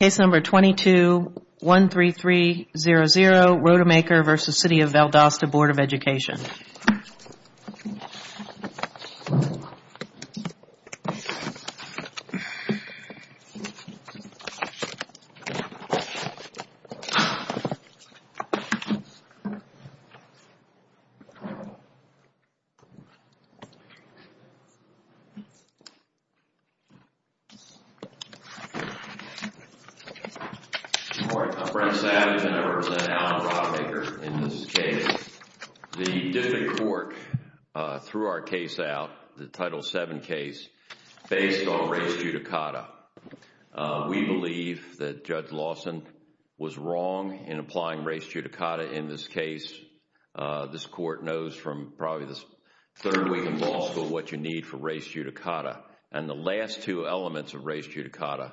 Case number 2213300 Rodemaker v. City of Valdosta Board of Education Court, I'm Brent Savage and I represent Allen Rodemaker in this case. The different court threw our case out, the Title VII case, based on race judicata. We believe that Judge Lawson was wrong in applying race judicata in this case. This court knows from probably this third week in law school what you need for race judicata. And the last two elements of race judicata,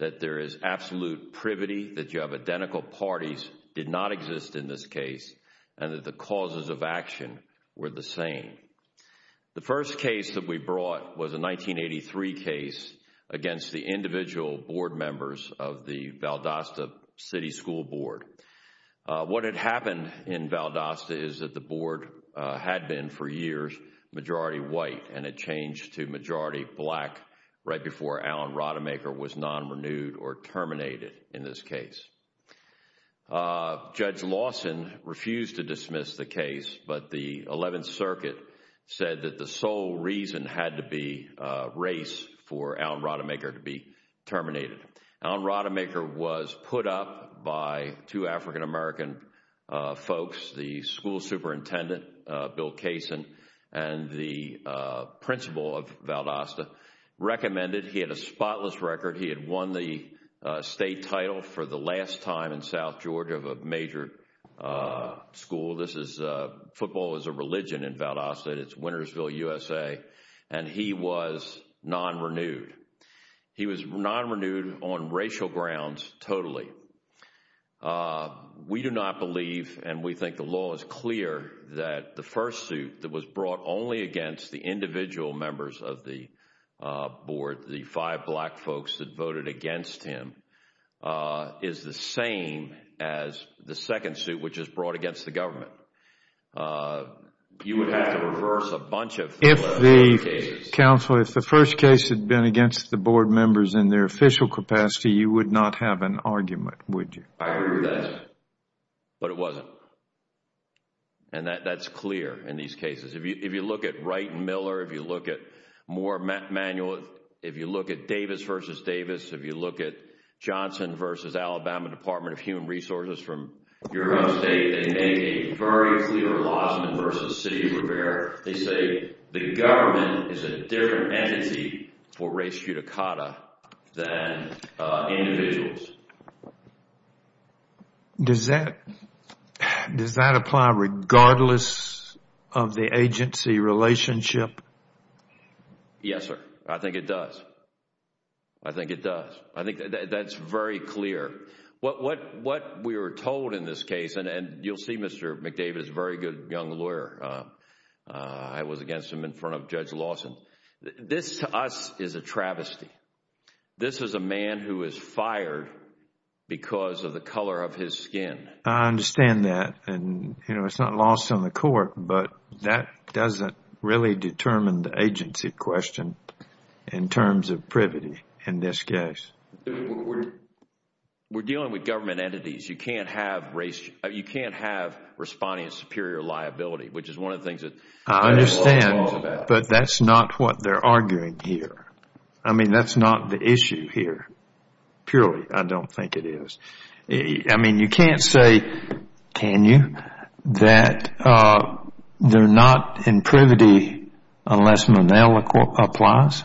that there is absolute privity, that you have identical parties did not exist in this case, and that the causes of action were the same. The first case that we brought was a 1983 case against the individual board members of the Valdosta City School Board. What had happened in Valdosta is that the board had been for years majority white and it changed to majority black right before Allen Rodemaker was non-renewed or terminated in this case. Judge Lawson refused to dismiss the case, but the 11th Circuit said that the sole reason had to be race for Allen Rodemaker to be terminated. Allen Rodemaker was put up by two African American folks, the school superintendent, Bill Kaysen, and the principal of Valdosta, recommended, he had a spotless record, he had won the state title for the last time in South Georgia of a major school. This is, football is a religion in Valdosta, it's Wintersville, USA, and he was non-renewed. He was non-renewed on racial grounds totally. We do not believe, and we think the law is clear, that the first suit that was brought only against the individual members of the board, the five black folks that voted against him, is the same as the second suit which was brought against the government. You would have to reverse a bunch of cases. Counsel, if the first case had been against the board members in their official capacity, you would not have an argument, would you? I agree with that, but it wasn't, and that's clear in these cases. If you look at Wright and Miller, if you look at Moore and Manuel, if you look at Davis v. Davis, if you look at Johnson v. Alabama Department of Human Resources from your own state, they make a very clear lawsuit versus City of Rivera. They say the government is a different entity for race judicata than individuals. Does that apply regardless of the agency relationship? Yes, sir. I think it does. I think it does. I think that's very clear. What we were told in this case, and you'll see Mr. McDavid is a very good young lawyer. I was against him in front of Judge Lawson. This, to us, is a travesty. This is a man who is fired because of the color of his skin. I understand that, and it's not lost on the court, but that doesn't really determine the agency question in terms of privity in this case. We're dealing with government entities. You can't have responding as superior liability, which is one of the things that the federal law is about. I understand, but that's not what they're arguing here. I mean, that's not the issue here, purely, I don't think it is. I mean, you can't say, can you, that they're not in privity unless Manel applies?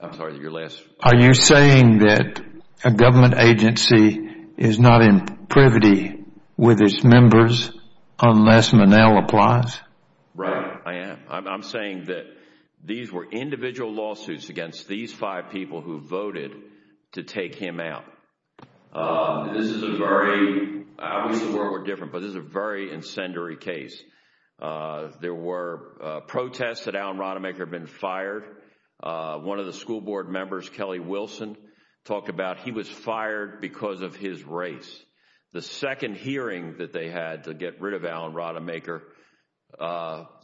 I'm sorry, your last? Are you saying that a government agency is not in privity with its members unless Manel applies? Right, I am. I'm saying that these were individual lawsuits against these five people who voted to take him out. This is a very, I wish the world were different, but this is a very incendiary case. There were protests that Alan Rademacher had been fired. One of the school board members, Kelly Wilson, talked about he was fired because of his race. The second hearing that they had to get rid of Alan Rademacher,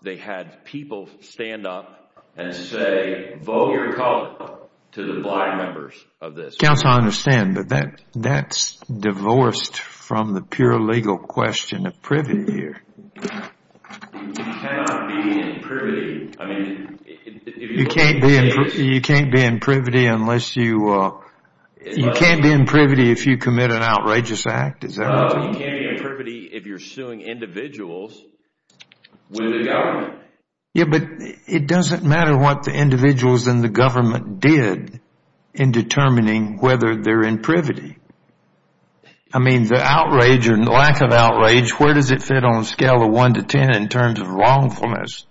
they had people stand up and say, vote your color to the black members of this. Counsel, I understand, but that's divorced from the pure legal question of privity here. You cannot be in privity. You can't be in privity unless you, you can't be in privity if you commit an outrageous act, is that right? No, you can't be in privity if you're suing individuals with the government. Yeah, but it doesn't matter what the individuals in the government did in determining whether they're in privity. I mean, the outrage or lack of outrage, where does it fit on a scale of one to ten in terms of wrongfulness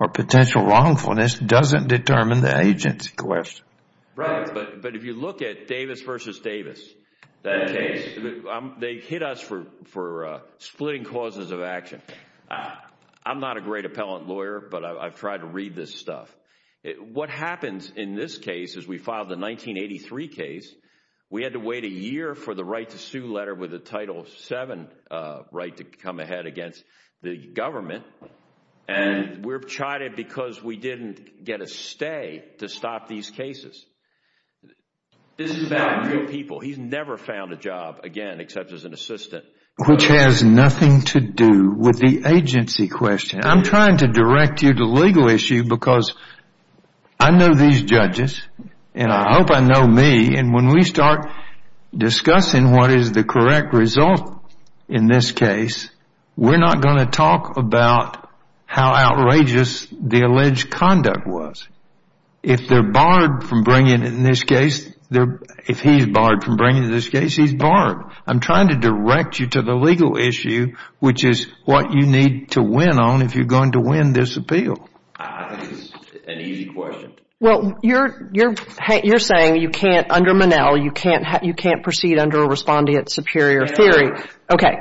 or potential wrongfulness doesn't determine the agency question. Right, but if you look at Davis v. Davis, they hit us for splitting causes of action. I'm not a great appellant lawyer, but I've tried to read this stuff. What happens in this case is we filed the 1983 case. We had to wait a year for the right to sue letter with a Title VII right to come ahead against the government, and we're chided because we didn't get a stay to stop these cases. This is about real people. He's never found a job again except as an assistant. Which has nothing to do with the agency question. I'm trying to direct you to legal issue because I know these judges, and I hope I know me, and when we start discussing what is the correct result in this case, we're not going to talk about how outrageous the alleged conduct was. If they're barred from bringing it in this case, if he's barred from bringing it in this case, he's barred. I'm trying to direct you to the legal issue, which is what you need to win on if you're going to win this appeal. I think it's an easy question. Well, you're saying you can't, under Monell, you can't proceed under a respondeat superior theory. Okay.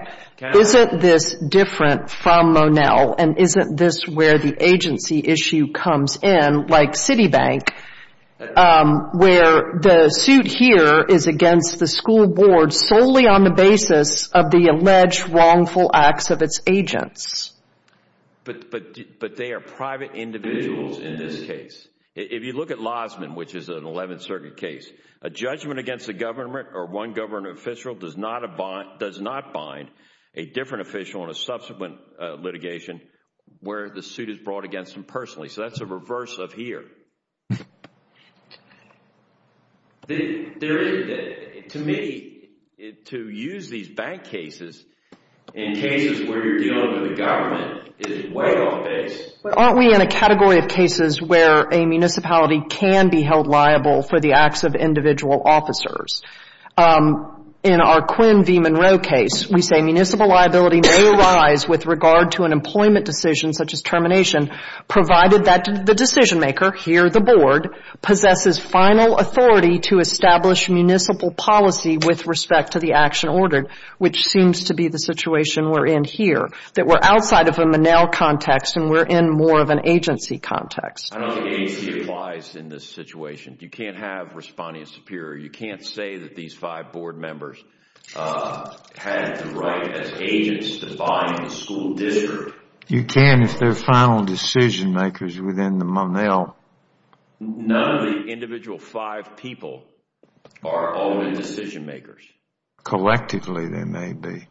Isn't this different from Monell, and isn't this where the agency issue comes in, like Citibank, where the suit here is against the school board solely on the basis of the alleged wrongful acts of its agents? But they are private individuals in this case. If you look at Lozman, which is an 11th Circuit case, a judgment against a government or one government official does not bind a different official in a subsequent litigation where the suit is brought against them personally. So that's a reverse of here. To me, to use these bank cases in cases where you're dealing with the government is way off base. Aren't we in a category of cases where a municipality can be held liable for the acts of individual officers? In our Quinn v. Monroe case, we say municipal liability may arise with regard to an employment decision, such as termination, provided that the decision maker, here the board, possesses final authority to establish municipal policy with respect to the action ordered, which seems to be the situation we're in here, that we're outside of a Monell context and we're in more of an agency context. I don't think agency applies in this situation. You can't have respondeat superior. You can't say that these five board members had the right as agents to bind the school district. You can if they're final decision makers within the Monell. None of the individual five people are older decision makers. Collectively, they may be.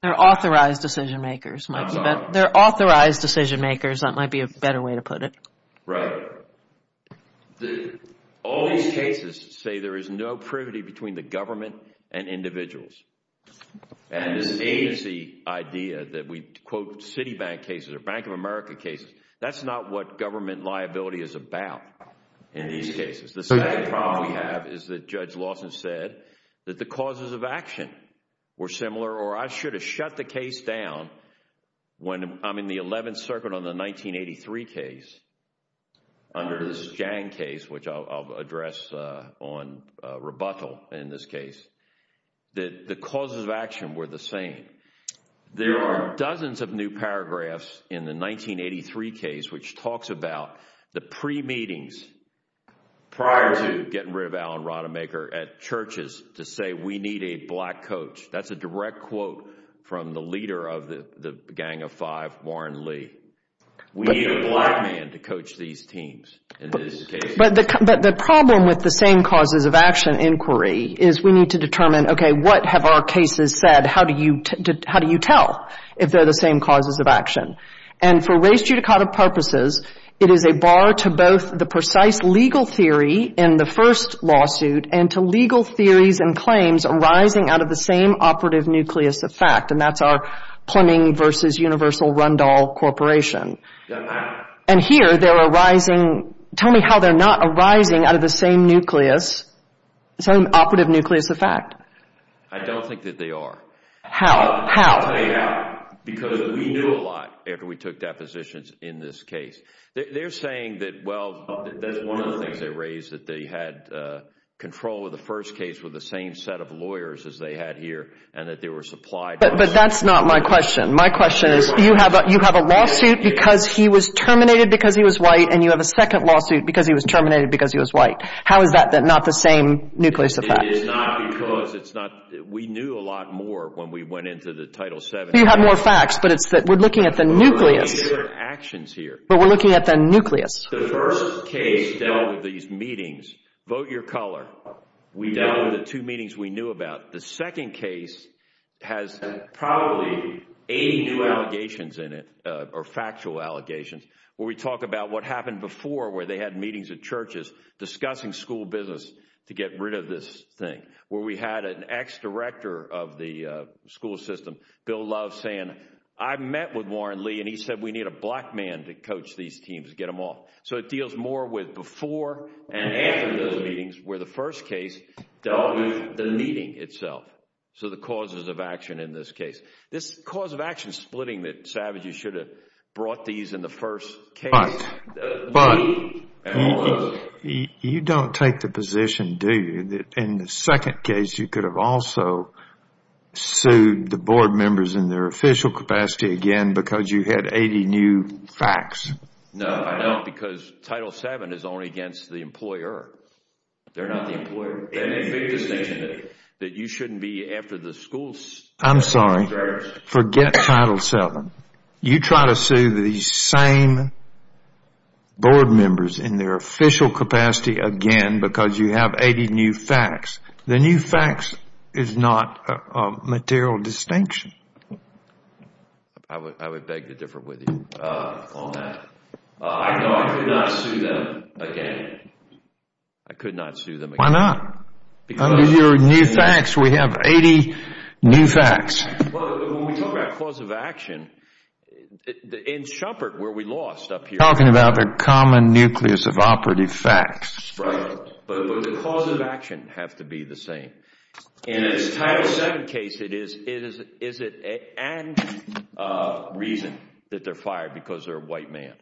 They're authorized decision makers. They're authorized decision makers. That might be a better way to put it. Right. All these cases say there is no privity between the government and individuals. This agency idea that we quote Citibank cases or Bank of America cases, that's not what government liability is about in these cases. The second problem we have is that Judge Lawson said that the causes of action were similar or I should have shut the case down when I'm in the 11th Circuit on the 1983 case under this Jang case, which I'll address on rebuttal in this case. The causes of action were the same. There are dozens of new paragraphs in the 1983 case which talks about the pre-meetings prior to getting rid of Alan Rodemaker at churches to say we need a black coach. That's a direct quote from the leader of the Gang of Five, Warren Lee. We need a black man to coach these teams in this case. But the problem with the same causes of action inquiry is we need to determine, okay, what have our cases said? How do you tell if they're the same causes of action? And for race judicative purposes, it is a bar to both the precise legal theory in the first lawsuit and to legal theories and claims arising out of the same operative nucleus of fact, and that's our Plumbing versus Universal Rundle Corporation. And here they're arising. Tell me how they're not arising out of the same nucleus, same operative nucleus of fact. I don't think that they are. How? How? Because we knew a lot after we took depositions in this case. They're saying that, well, that's one of the things they raised, that they had control of the first case with the same set of lawyers as they had here and that they were supplied. But that's not my question. My question is you have a lawsuit because he was terminated because he was white and you have a second lawsuit because he was terminated because he was white. How is that not the same nucleus of fact? It is not because it's not. We knew a lot more when we went into the Title VII. You have more facts, but it's that we're looking at the nucleus. But we're looking at different actions here. But we're looking at the nucleus. The first case dealt with these meetings. Vote your color. We dealt with the two meetings we knew about. The second case has probably 80 new allegations in it or factual allegations where we talk about what happened before where they had meetings at churches discussing school business to get rid of this thing, where we had an ex-director of the school system, Bill Love, saying, I met with Warren Lee and he said we need a black man to coach these teams, get them off. So it deals more with before and after those meetings where the first case dealt with the meeting itself. So the causes of action in this case. This cause of action splitting that savages should have brought these in the first case. But you don't take the position, do you, that in the second case you could have also sued the board members in their official capacity again because you had 80 new facts? No, I don't because Title VII is only against the employer. They're not the employer. They make a big distinction that you shouldn't be after the school system. I'm sorry. Forget Title VII. You try to sue these same board members in their official capacity again because you have 80 new facts. The new facts is not a material distinction. I would beg to differ with you on that. I know I could not sue them again. I could not sue them again. Why not? Under your new facts, we have 80 new facts. When we talk about cause of action, in Shuppert where we lost up here, we're talking about their common nucleus of operative facts. Right. But the cause of action has to be the same. In this Title VII case, is it and reason that they're fired because they're a white man.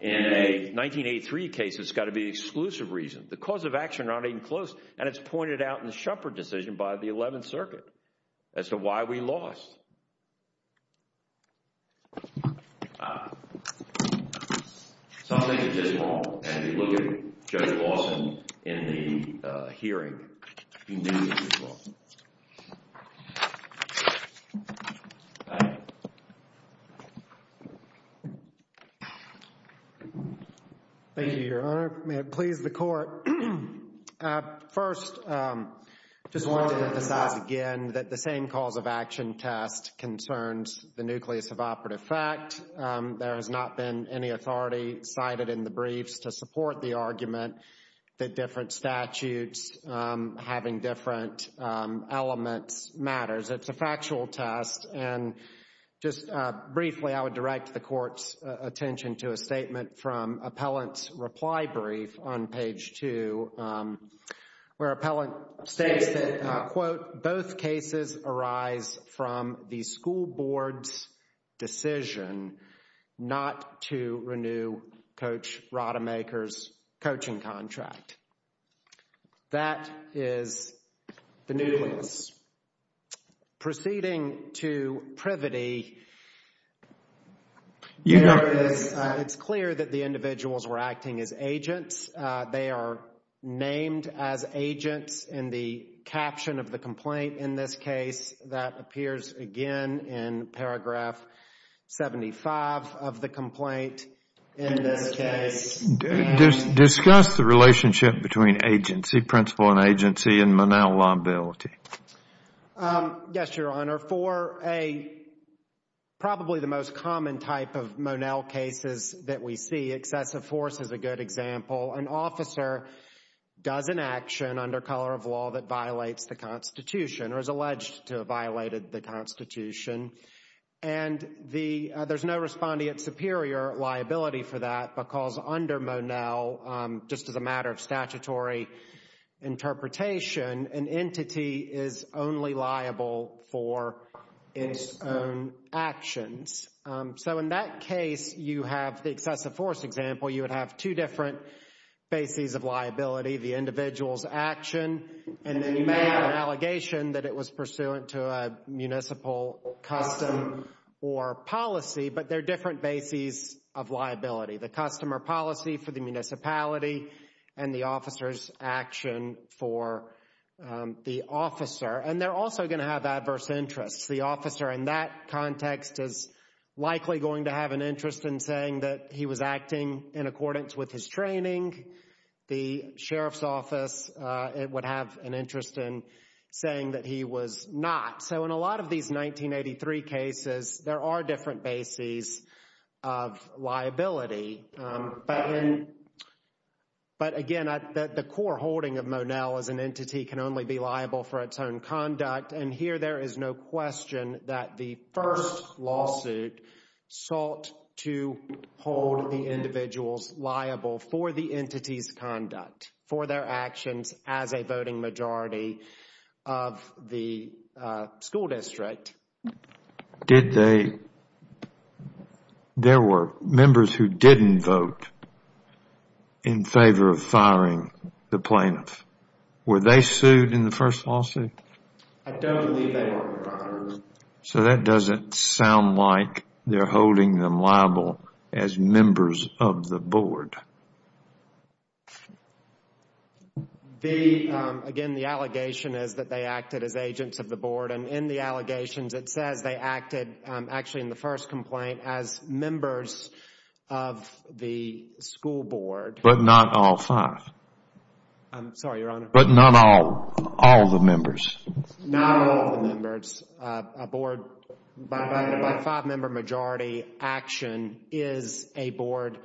In a 1983 case, it's got to be exclusive reason. The cause of action are not even close, and it's pointed out in the Shuppert decision by the 11th Circuit as to why we lost. So I think it's just wrong. And if you look at Judge Lawson in the hearing, he knew this was wrong. Thank you. Thank you, Your Honor. May it please the Court. First, I just want to emphasize again that the same cause of action test concerns the nucleus of operative fact. There has not been any authority cited in the briefs to support the argument that different statutes having different elements matters. It's a factual test. And just briefly, I would direct the Court's attention to a statement from Appellant's reply brief on page two, where Appellant states that, quote, both cases arise from the school board's decision not to renew Coach Rademacher's coaching contract. That is the nucleus. Proceeding to privity, it's clear that the individuals were acting as agents. They are named as agents in the caption of the complaint in this case. That appears again in paragraph 75 of the complaint. Discuss the relationship between agency, principle and agency, and Monell liability. Yes, Your Honor. For probably the most common type of Monell cases that we see, excessive force is a good example. An officer does an action under color of law that violates the Constitution or is alleged to have violated the Constitution, and there's no respondeant superior liability for that because under Monell, just as a matter of statutory interpretation, an entity is only liable for its own actions. So in that case, you have the excessive force example. You would have two different bases of liability, the individual's action, and then you may have an allegation that it was pursuant to a municipal custom or policy, but there are different bases of liability, the customer policy for the municipality and the officer's action for the officer. And they're also going to have adverse interests. The officer in that context is likely going to have an interest in saying that he was acting in accordance with his training. The sheriff's office would have an interest in saying that he was not. So in a lot of these 1983 cases, there are different bases of liability. But again, the core holding of Monell as an entity can only be liable for its own conduct, and here there is no question that the first lawsuit sought to hold the individuals liable for the entity's conduct, for their actions as a voting majority of the school district. There were members who didn't vote in favor of firing the plaintiffs. Were they sued in the first lawsuit? I don't believe they were, Your Honor. So that doesn't sound like they're holding them liable as members of the board. Again, the allegation is that they acted as agents of the board, and in the allegations it says they acted actually in the first complaint as members of the school board. But not all five. I'm sorry, Your Honor. But not all, all the members. Not all the members. A board by a five-member majority action is a board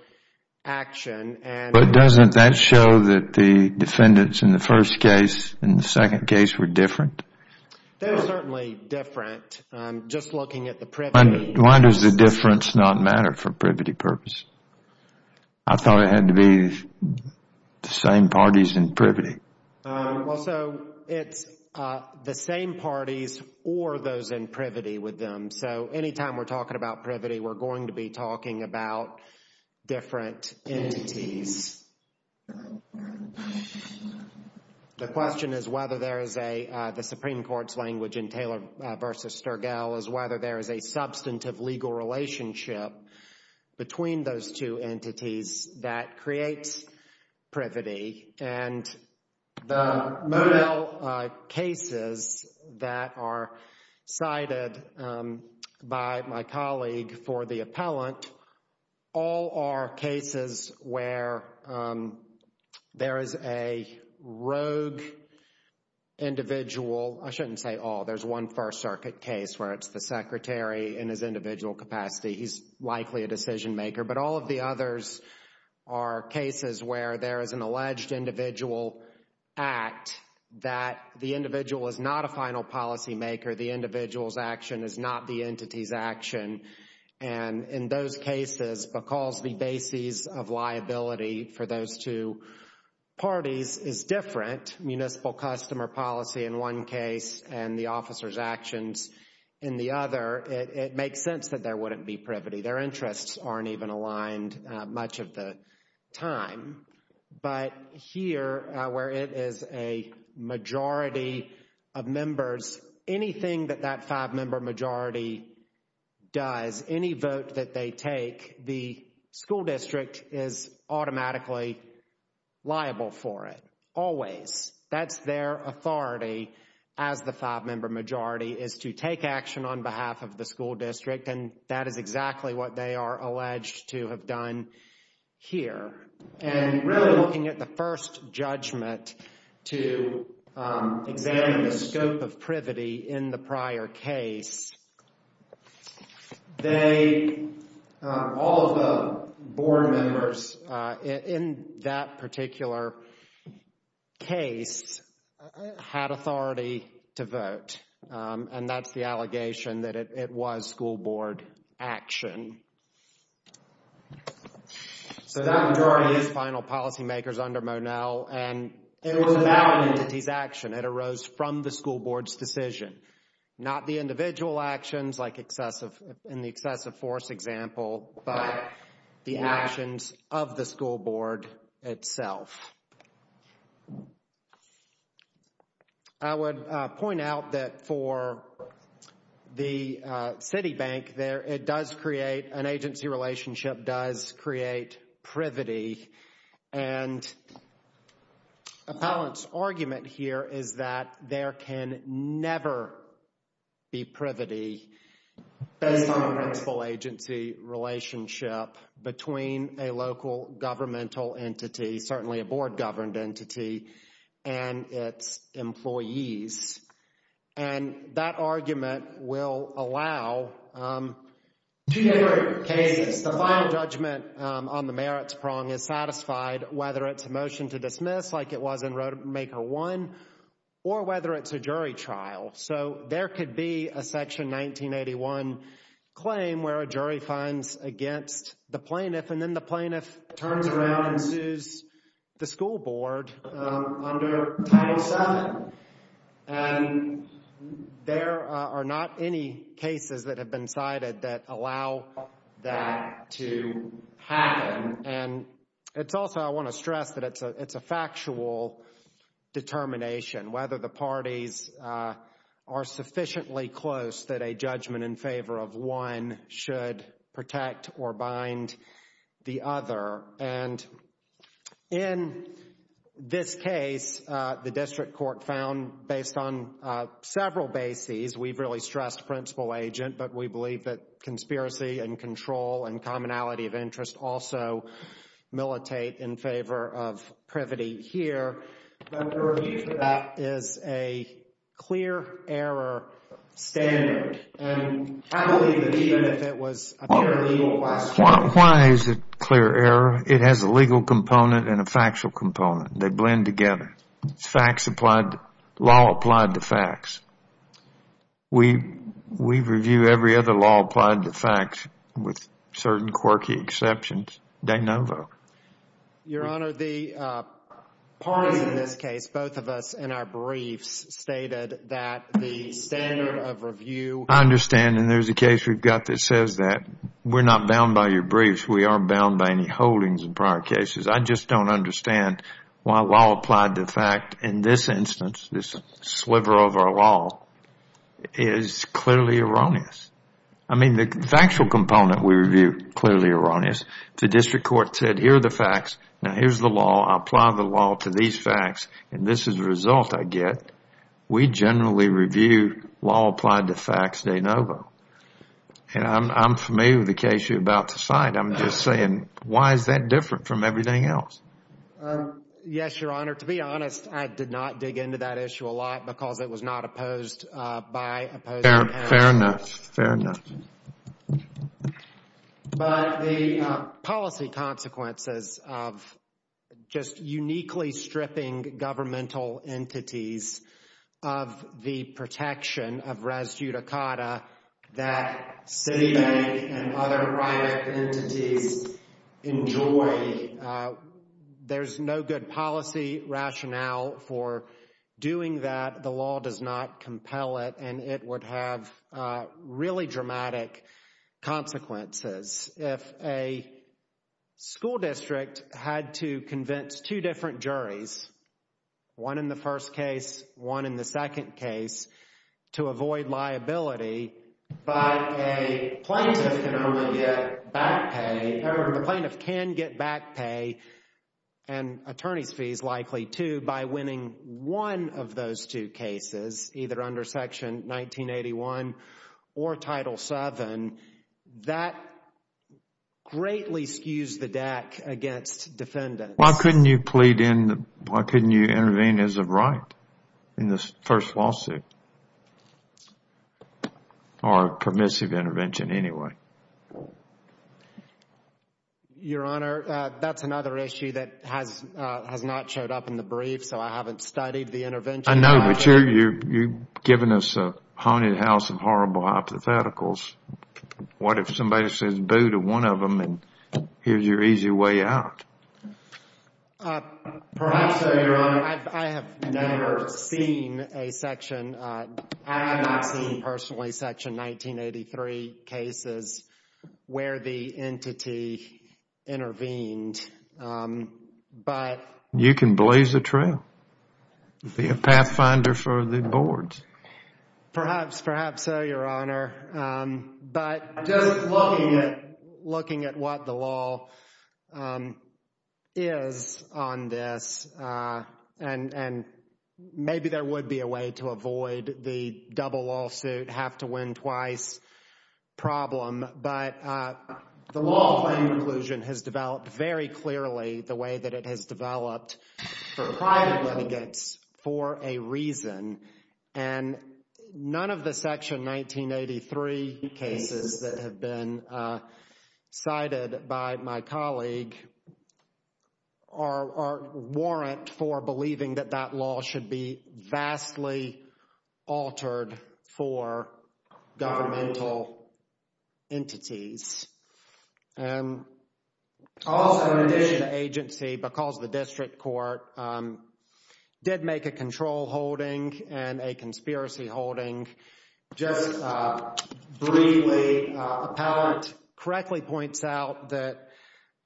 action. But doesn't that show that the defendants in the first case and the second case were different? They were certainly different. Just looking at the privity. Why does the difference not matter for privity purpose? I thought it had to be the same parties in privity. Well, so it's the same parties or those in privity with them. So anytime we're talking about privity, we're going to be talking about different entities. The question is whether there is a, the Supreme Court's language in Taylor v. Sturgill, is whether there is a substantive legal relationship between those two entities that creates privity. And the Modell cases that are cited by my colleague for the appellant, all are cases where there is a rogue individual, I shouldn't say all, there's one First Circuit case where it's the secretary in his individual capacity. He's likely a decision maker. But all of the others are cases where there is an alleged individual act that the individual is not a final policymaker. The individual's action is not the entity's action. And in those cases, McCall's debases of liability for those two parties is different. Municipal customer policy in one case and the officer's actions in the other, it makes sense that there wouldn't be privity. Their interests aren't even aligned much of the time. But here, where it is a majority of members, anything that that five-member majority does, any vote that they take, the school district is automatically liable for it. Always. That's their authority as the five-member majority is to take action on behalf of the school district. And that is exactly what they are alleged to have done here. And really looking at the first judgment to examine the scope of privity in the prior case, they, all of the board members in that particular case, had authority to vote. And that's the allegation that it was school board action. So that majority is final policymakers under Monell. And it was about an entity's action. It arose from the school board's decision. Not the individual actions like excessive, in the excessive force example, but the actions of the school board itself. I would point out that for the city bank there, it does create, an agency relationship does create privity. And Appellant's argument here is that there can never be privity based on a principal agency relationship between a local governmental entity, certainly a board-governed entity, and its employees. And that argument will allow two different cases. The final judgment on the merits prong is satisfied, whether it's a motion to dismiss, like it was in Roadmaker 1, or whether it's a jury trial. So there could be a Section 1981 claim where a jury finds against the plaintiff, and then the plaintiff turns around and sues the school board under Title VII. And there are not any cases that have been cited that allow that to happen. And it's also, I want to stress that it's a factual determination, whether the parties are sufficiently close that a judgment in favor of one should protect or bind the other. And in this case, the district court found, based on several bases, we've really stressed principal agent, but we believe that conspiracy and control and commonality of interest also militate in favor of privity here. But the review for that is a clear error standard. And I believe that even if it was a purely legal question. Why is it a clear error? It has a legal component and a factual component. They blend together. It's facts applied, law applied to facts. We review every other law applied to facts with certain quirky exceptions. De novo. Your Honor, the parties in this case, both of us in our briefs, stated that the standard of review. I understand, and there's a case we've got that says that. We're not bound by your briefs. We aren't bound by any holdings in prior cases. I just don't understand why law applied to fact in this instance, this sliver of our law, is clearly erroneous. I mean, the factual component we review, clearly erroneous. The district court said, here are the facts. Now, here's the law. I apply the law to these facts, and this is the result I get. We generally review law applied to facts de novo. I'm familiar with the case you're about to cite. I'm just saying, why is that different from everything else? Yes, Your Honor. To be honest, I did not dig into that issue a lot because it was not opposed by opposing parties. Fair enough. Fair enough. But the policy consequences of just uniquely stripping governmental entities of the protection of res judicata that Citibank and other private entities enjoy, there's no good policy rationale for doing that. The law does not compel it, and it would have really dramatic consequences. If a school district had to convince two different juries, one in the first case, one in the second case, to avoid liability, but a plaintiff can only get back pay, or the plaintiff can get back pay and attorney's fees likely, too, by winning one of those two cases, either under Section 1981 or Title VII, that greatly skews the deck against defendants. Why couldn't you intervene as a right in this first lawsuit? Or a permissive intervention anyway? Your Honor, that's another issue that has not showed up in the brief, so I haven't studied the intervention. I know, but you're giving us a haunted house of horrible hypotheticals. What if somebody says boo to one of them and here's your easy way out? Perhaps so, Your Honor. I have never seen a section. I have not seen personally Section 1983 cases where the entity intervened. You can blaze a trail. Be a pathfinder for the boards. Perhaps, perhaps so, Your Honor. But just looking at what the law is on this, and maybe there would be a way to avoid the double lawsuit, have to win twice problem, but the law of planning inclusion has developed very clearly the way that it has developed for private litigants for a reason, and none of the Section 1983 cases that have been cited by my colleague are warrant for believing that that law should be vastly altered for governmental entities. Also, in addition to agency, because the district court did make a control holding and a conspiracy holding, just briefly, appellant correctly points out that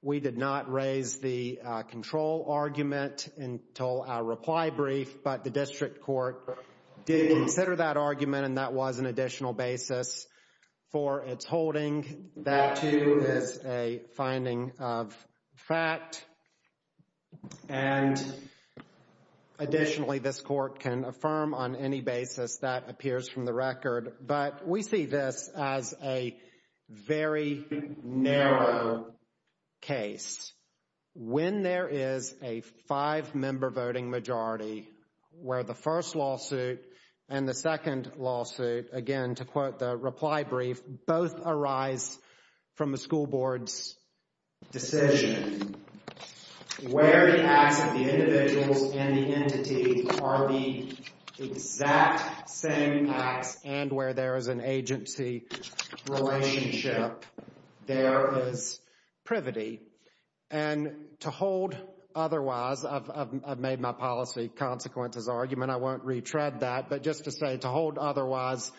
we did not raise the control argument until our reply brief, but the district court did consider that argument and that was an additional basis for its holding. That, too, is a finding of fact, and additionally, this court can affirm on any basis that appears from the record, but we see this as a very narrow case. When there is a five-member voting majority, where the first lawsuit and the second lawsuit, again, to quote the reply brief, both arise from the school board's decision, where the acts of the individuals and the entity are the exact same acts and where there is an agency relationship, there is privity. And to hold otherwise, I've made my policy consequences argument, I won't retread that, but just to say to hold otherwise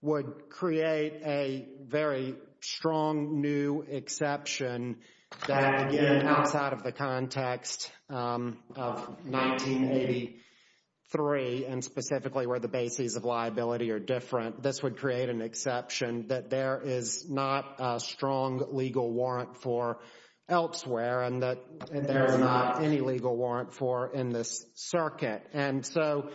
would create a very strong new exception that, again, outside of the context of 1983 and specifically where the bases of liability are different, this would create an exception that there is not a strong legal warrant for elsewhere and that there is not any legal warrant for in this circuit. And so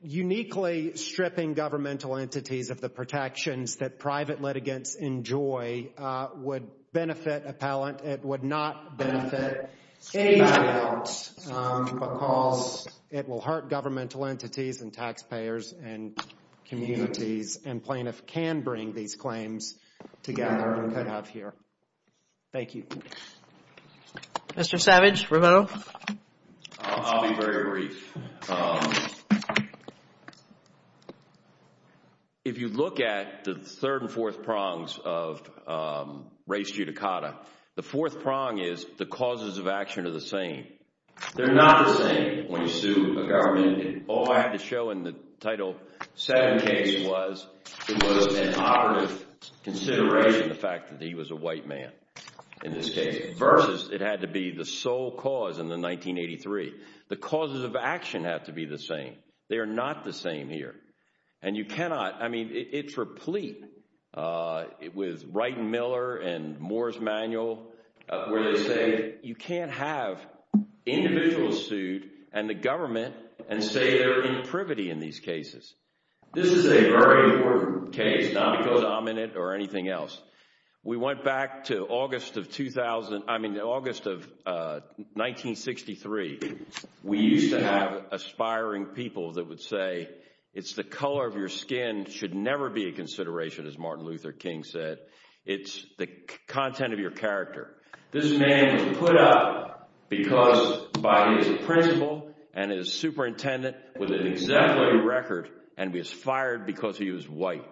uniquely stripping governmental entities of the protections that private litigants enjoy would benefit appellant. It would not benefit any appellant because it will hurt governmental entities and taxpayers and communities, and plaintiff can bring these claims together and could have here. Thank you. Mr. Savage, remote? I'll be very brief. If you look at the third and fourth prongs of race judicata, the fourth prong is the causes of action are the same. They're not the same when you sue a government. All I have to show in the Title VII case was it was an operative consideration, the fact that he was a white man in this case, versus it had to be the sole cause in the 1983. The causes of action have to be the same. They are not the same here. And you cannot, I mean, it's replete with Wright and Miller and Moore's Manual where they say you can't have individuals sued and the government and say they're in privity in these cases. This is a very important case, not because I'm in it or anything else. We went back to August of 2000, I mean August of 1963. We used to have aspiring people that would say it's the color of your skin should never be a consideration, as Martin Luther King said. It's the content of your character. This man was put up because by his principle and his superintendent with an exemplary record and was fired because he was white.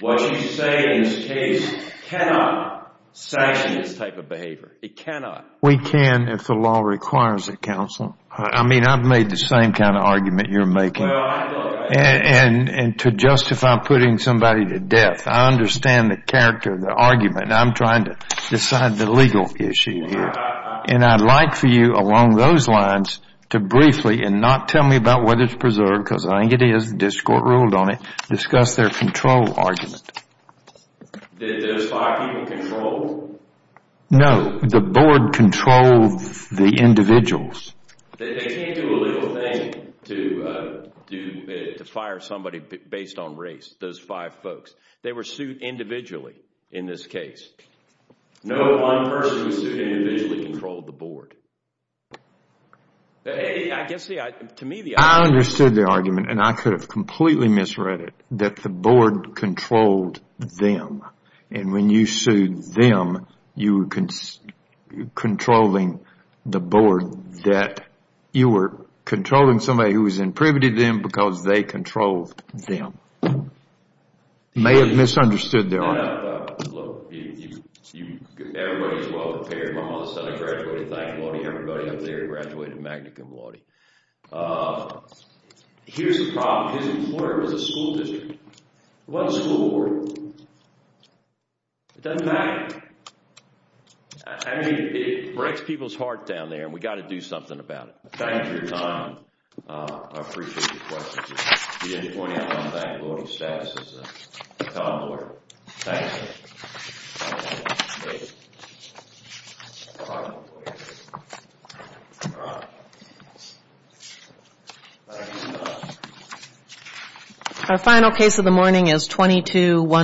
What you say in this case cannot sanction this type of behavior. It cannot. We can if the law requires it, counsel. I mean, I've made the same kind of argument you're making. And to justify putting somebody to death, I understand the character of the argument. I'm trying to decide the legal issue here. And I'd like for you along those lines to briefly, and not tell me about whether it's preserved, because I think it is, the district court ruled on it, discuss their control argument. Did those five people control it? No. The board controlled the individuals. They can't do a little thing to fire somebody based on race, those five folks. They were sued individually in this case. No one person was sued individually who controlled the board. I understood the argument, and I could have completely misread it, that the board controlled them. And when you sued them, you were controlling the board, that you were controlling somebody who was in privity to them because they controlled them. You may have misunderstood the argument. Everybody's well-prepared. My mother's son graduated thankfully. Everybody up there graduated magna cum laude. Here's the problem. His employer was a school district. It wasn't a school board. It doesn't matter. I mean, it breaks people's heart down there, and we've got to do something about it. Thank you for your time. I appreciate your questions. We end the morning on a bank loan status. It's a condor. Thank you. Our final case of the morning is 2211.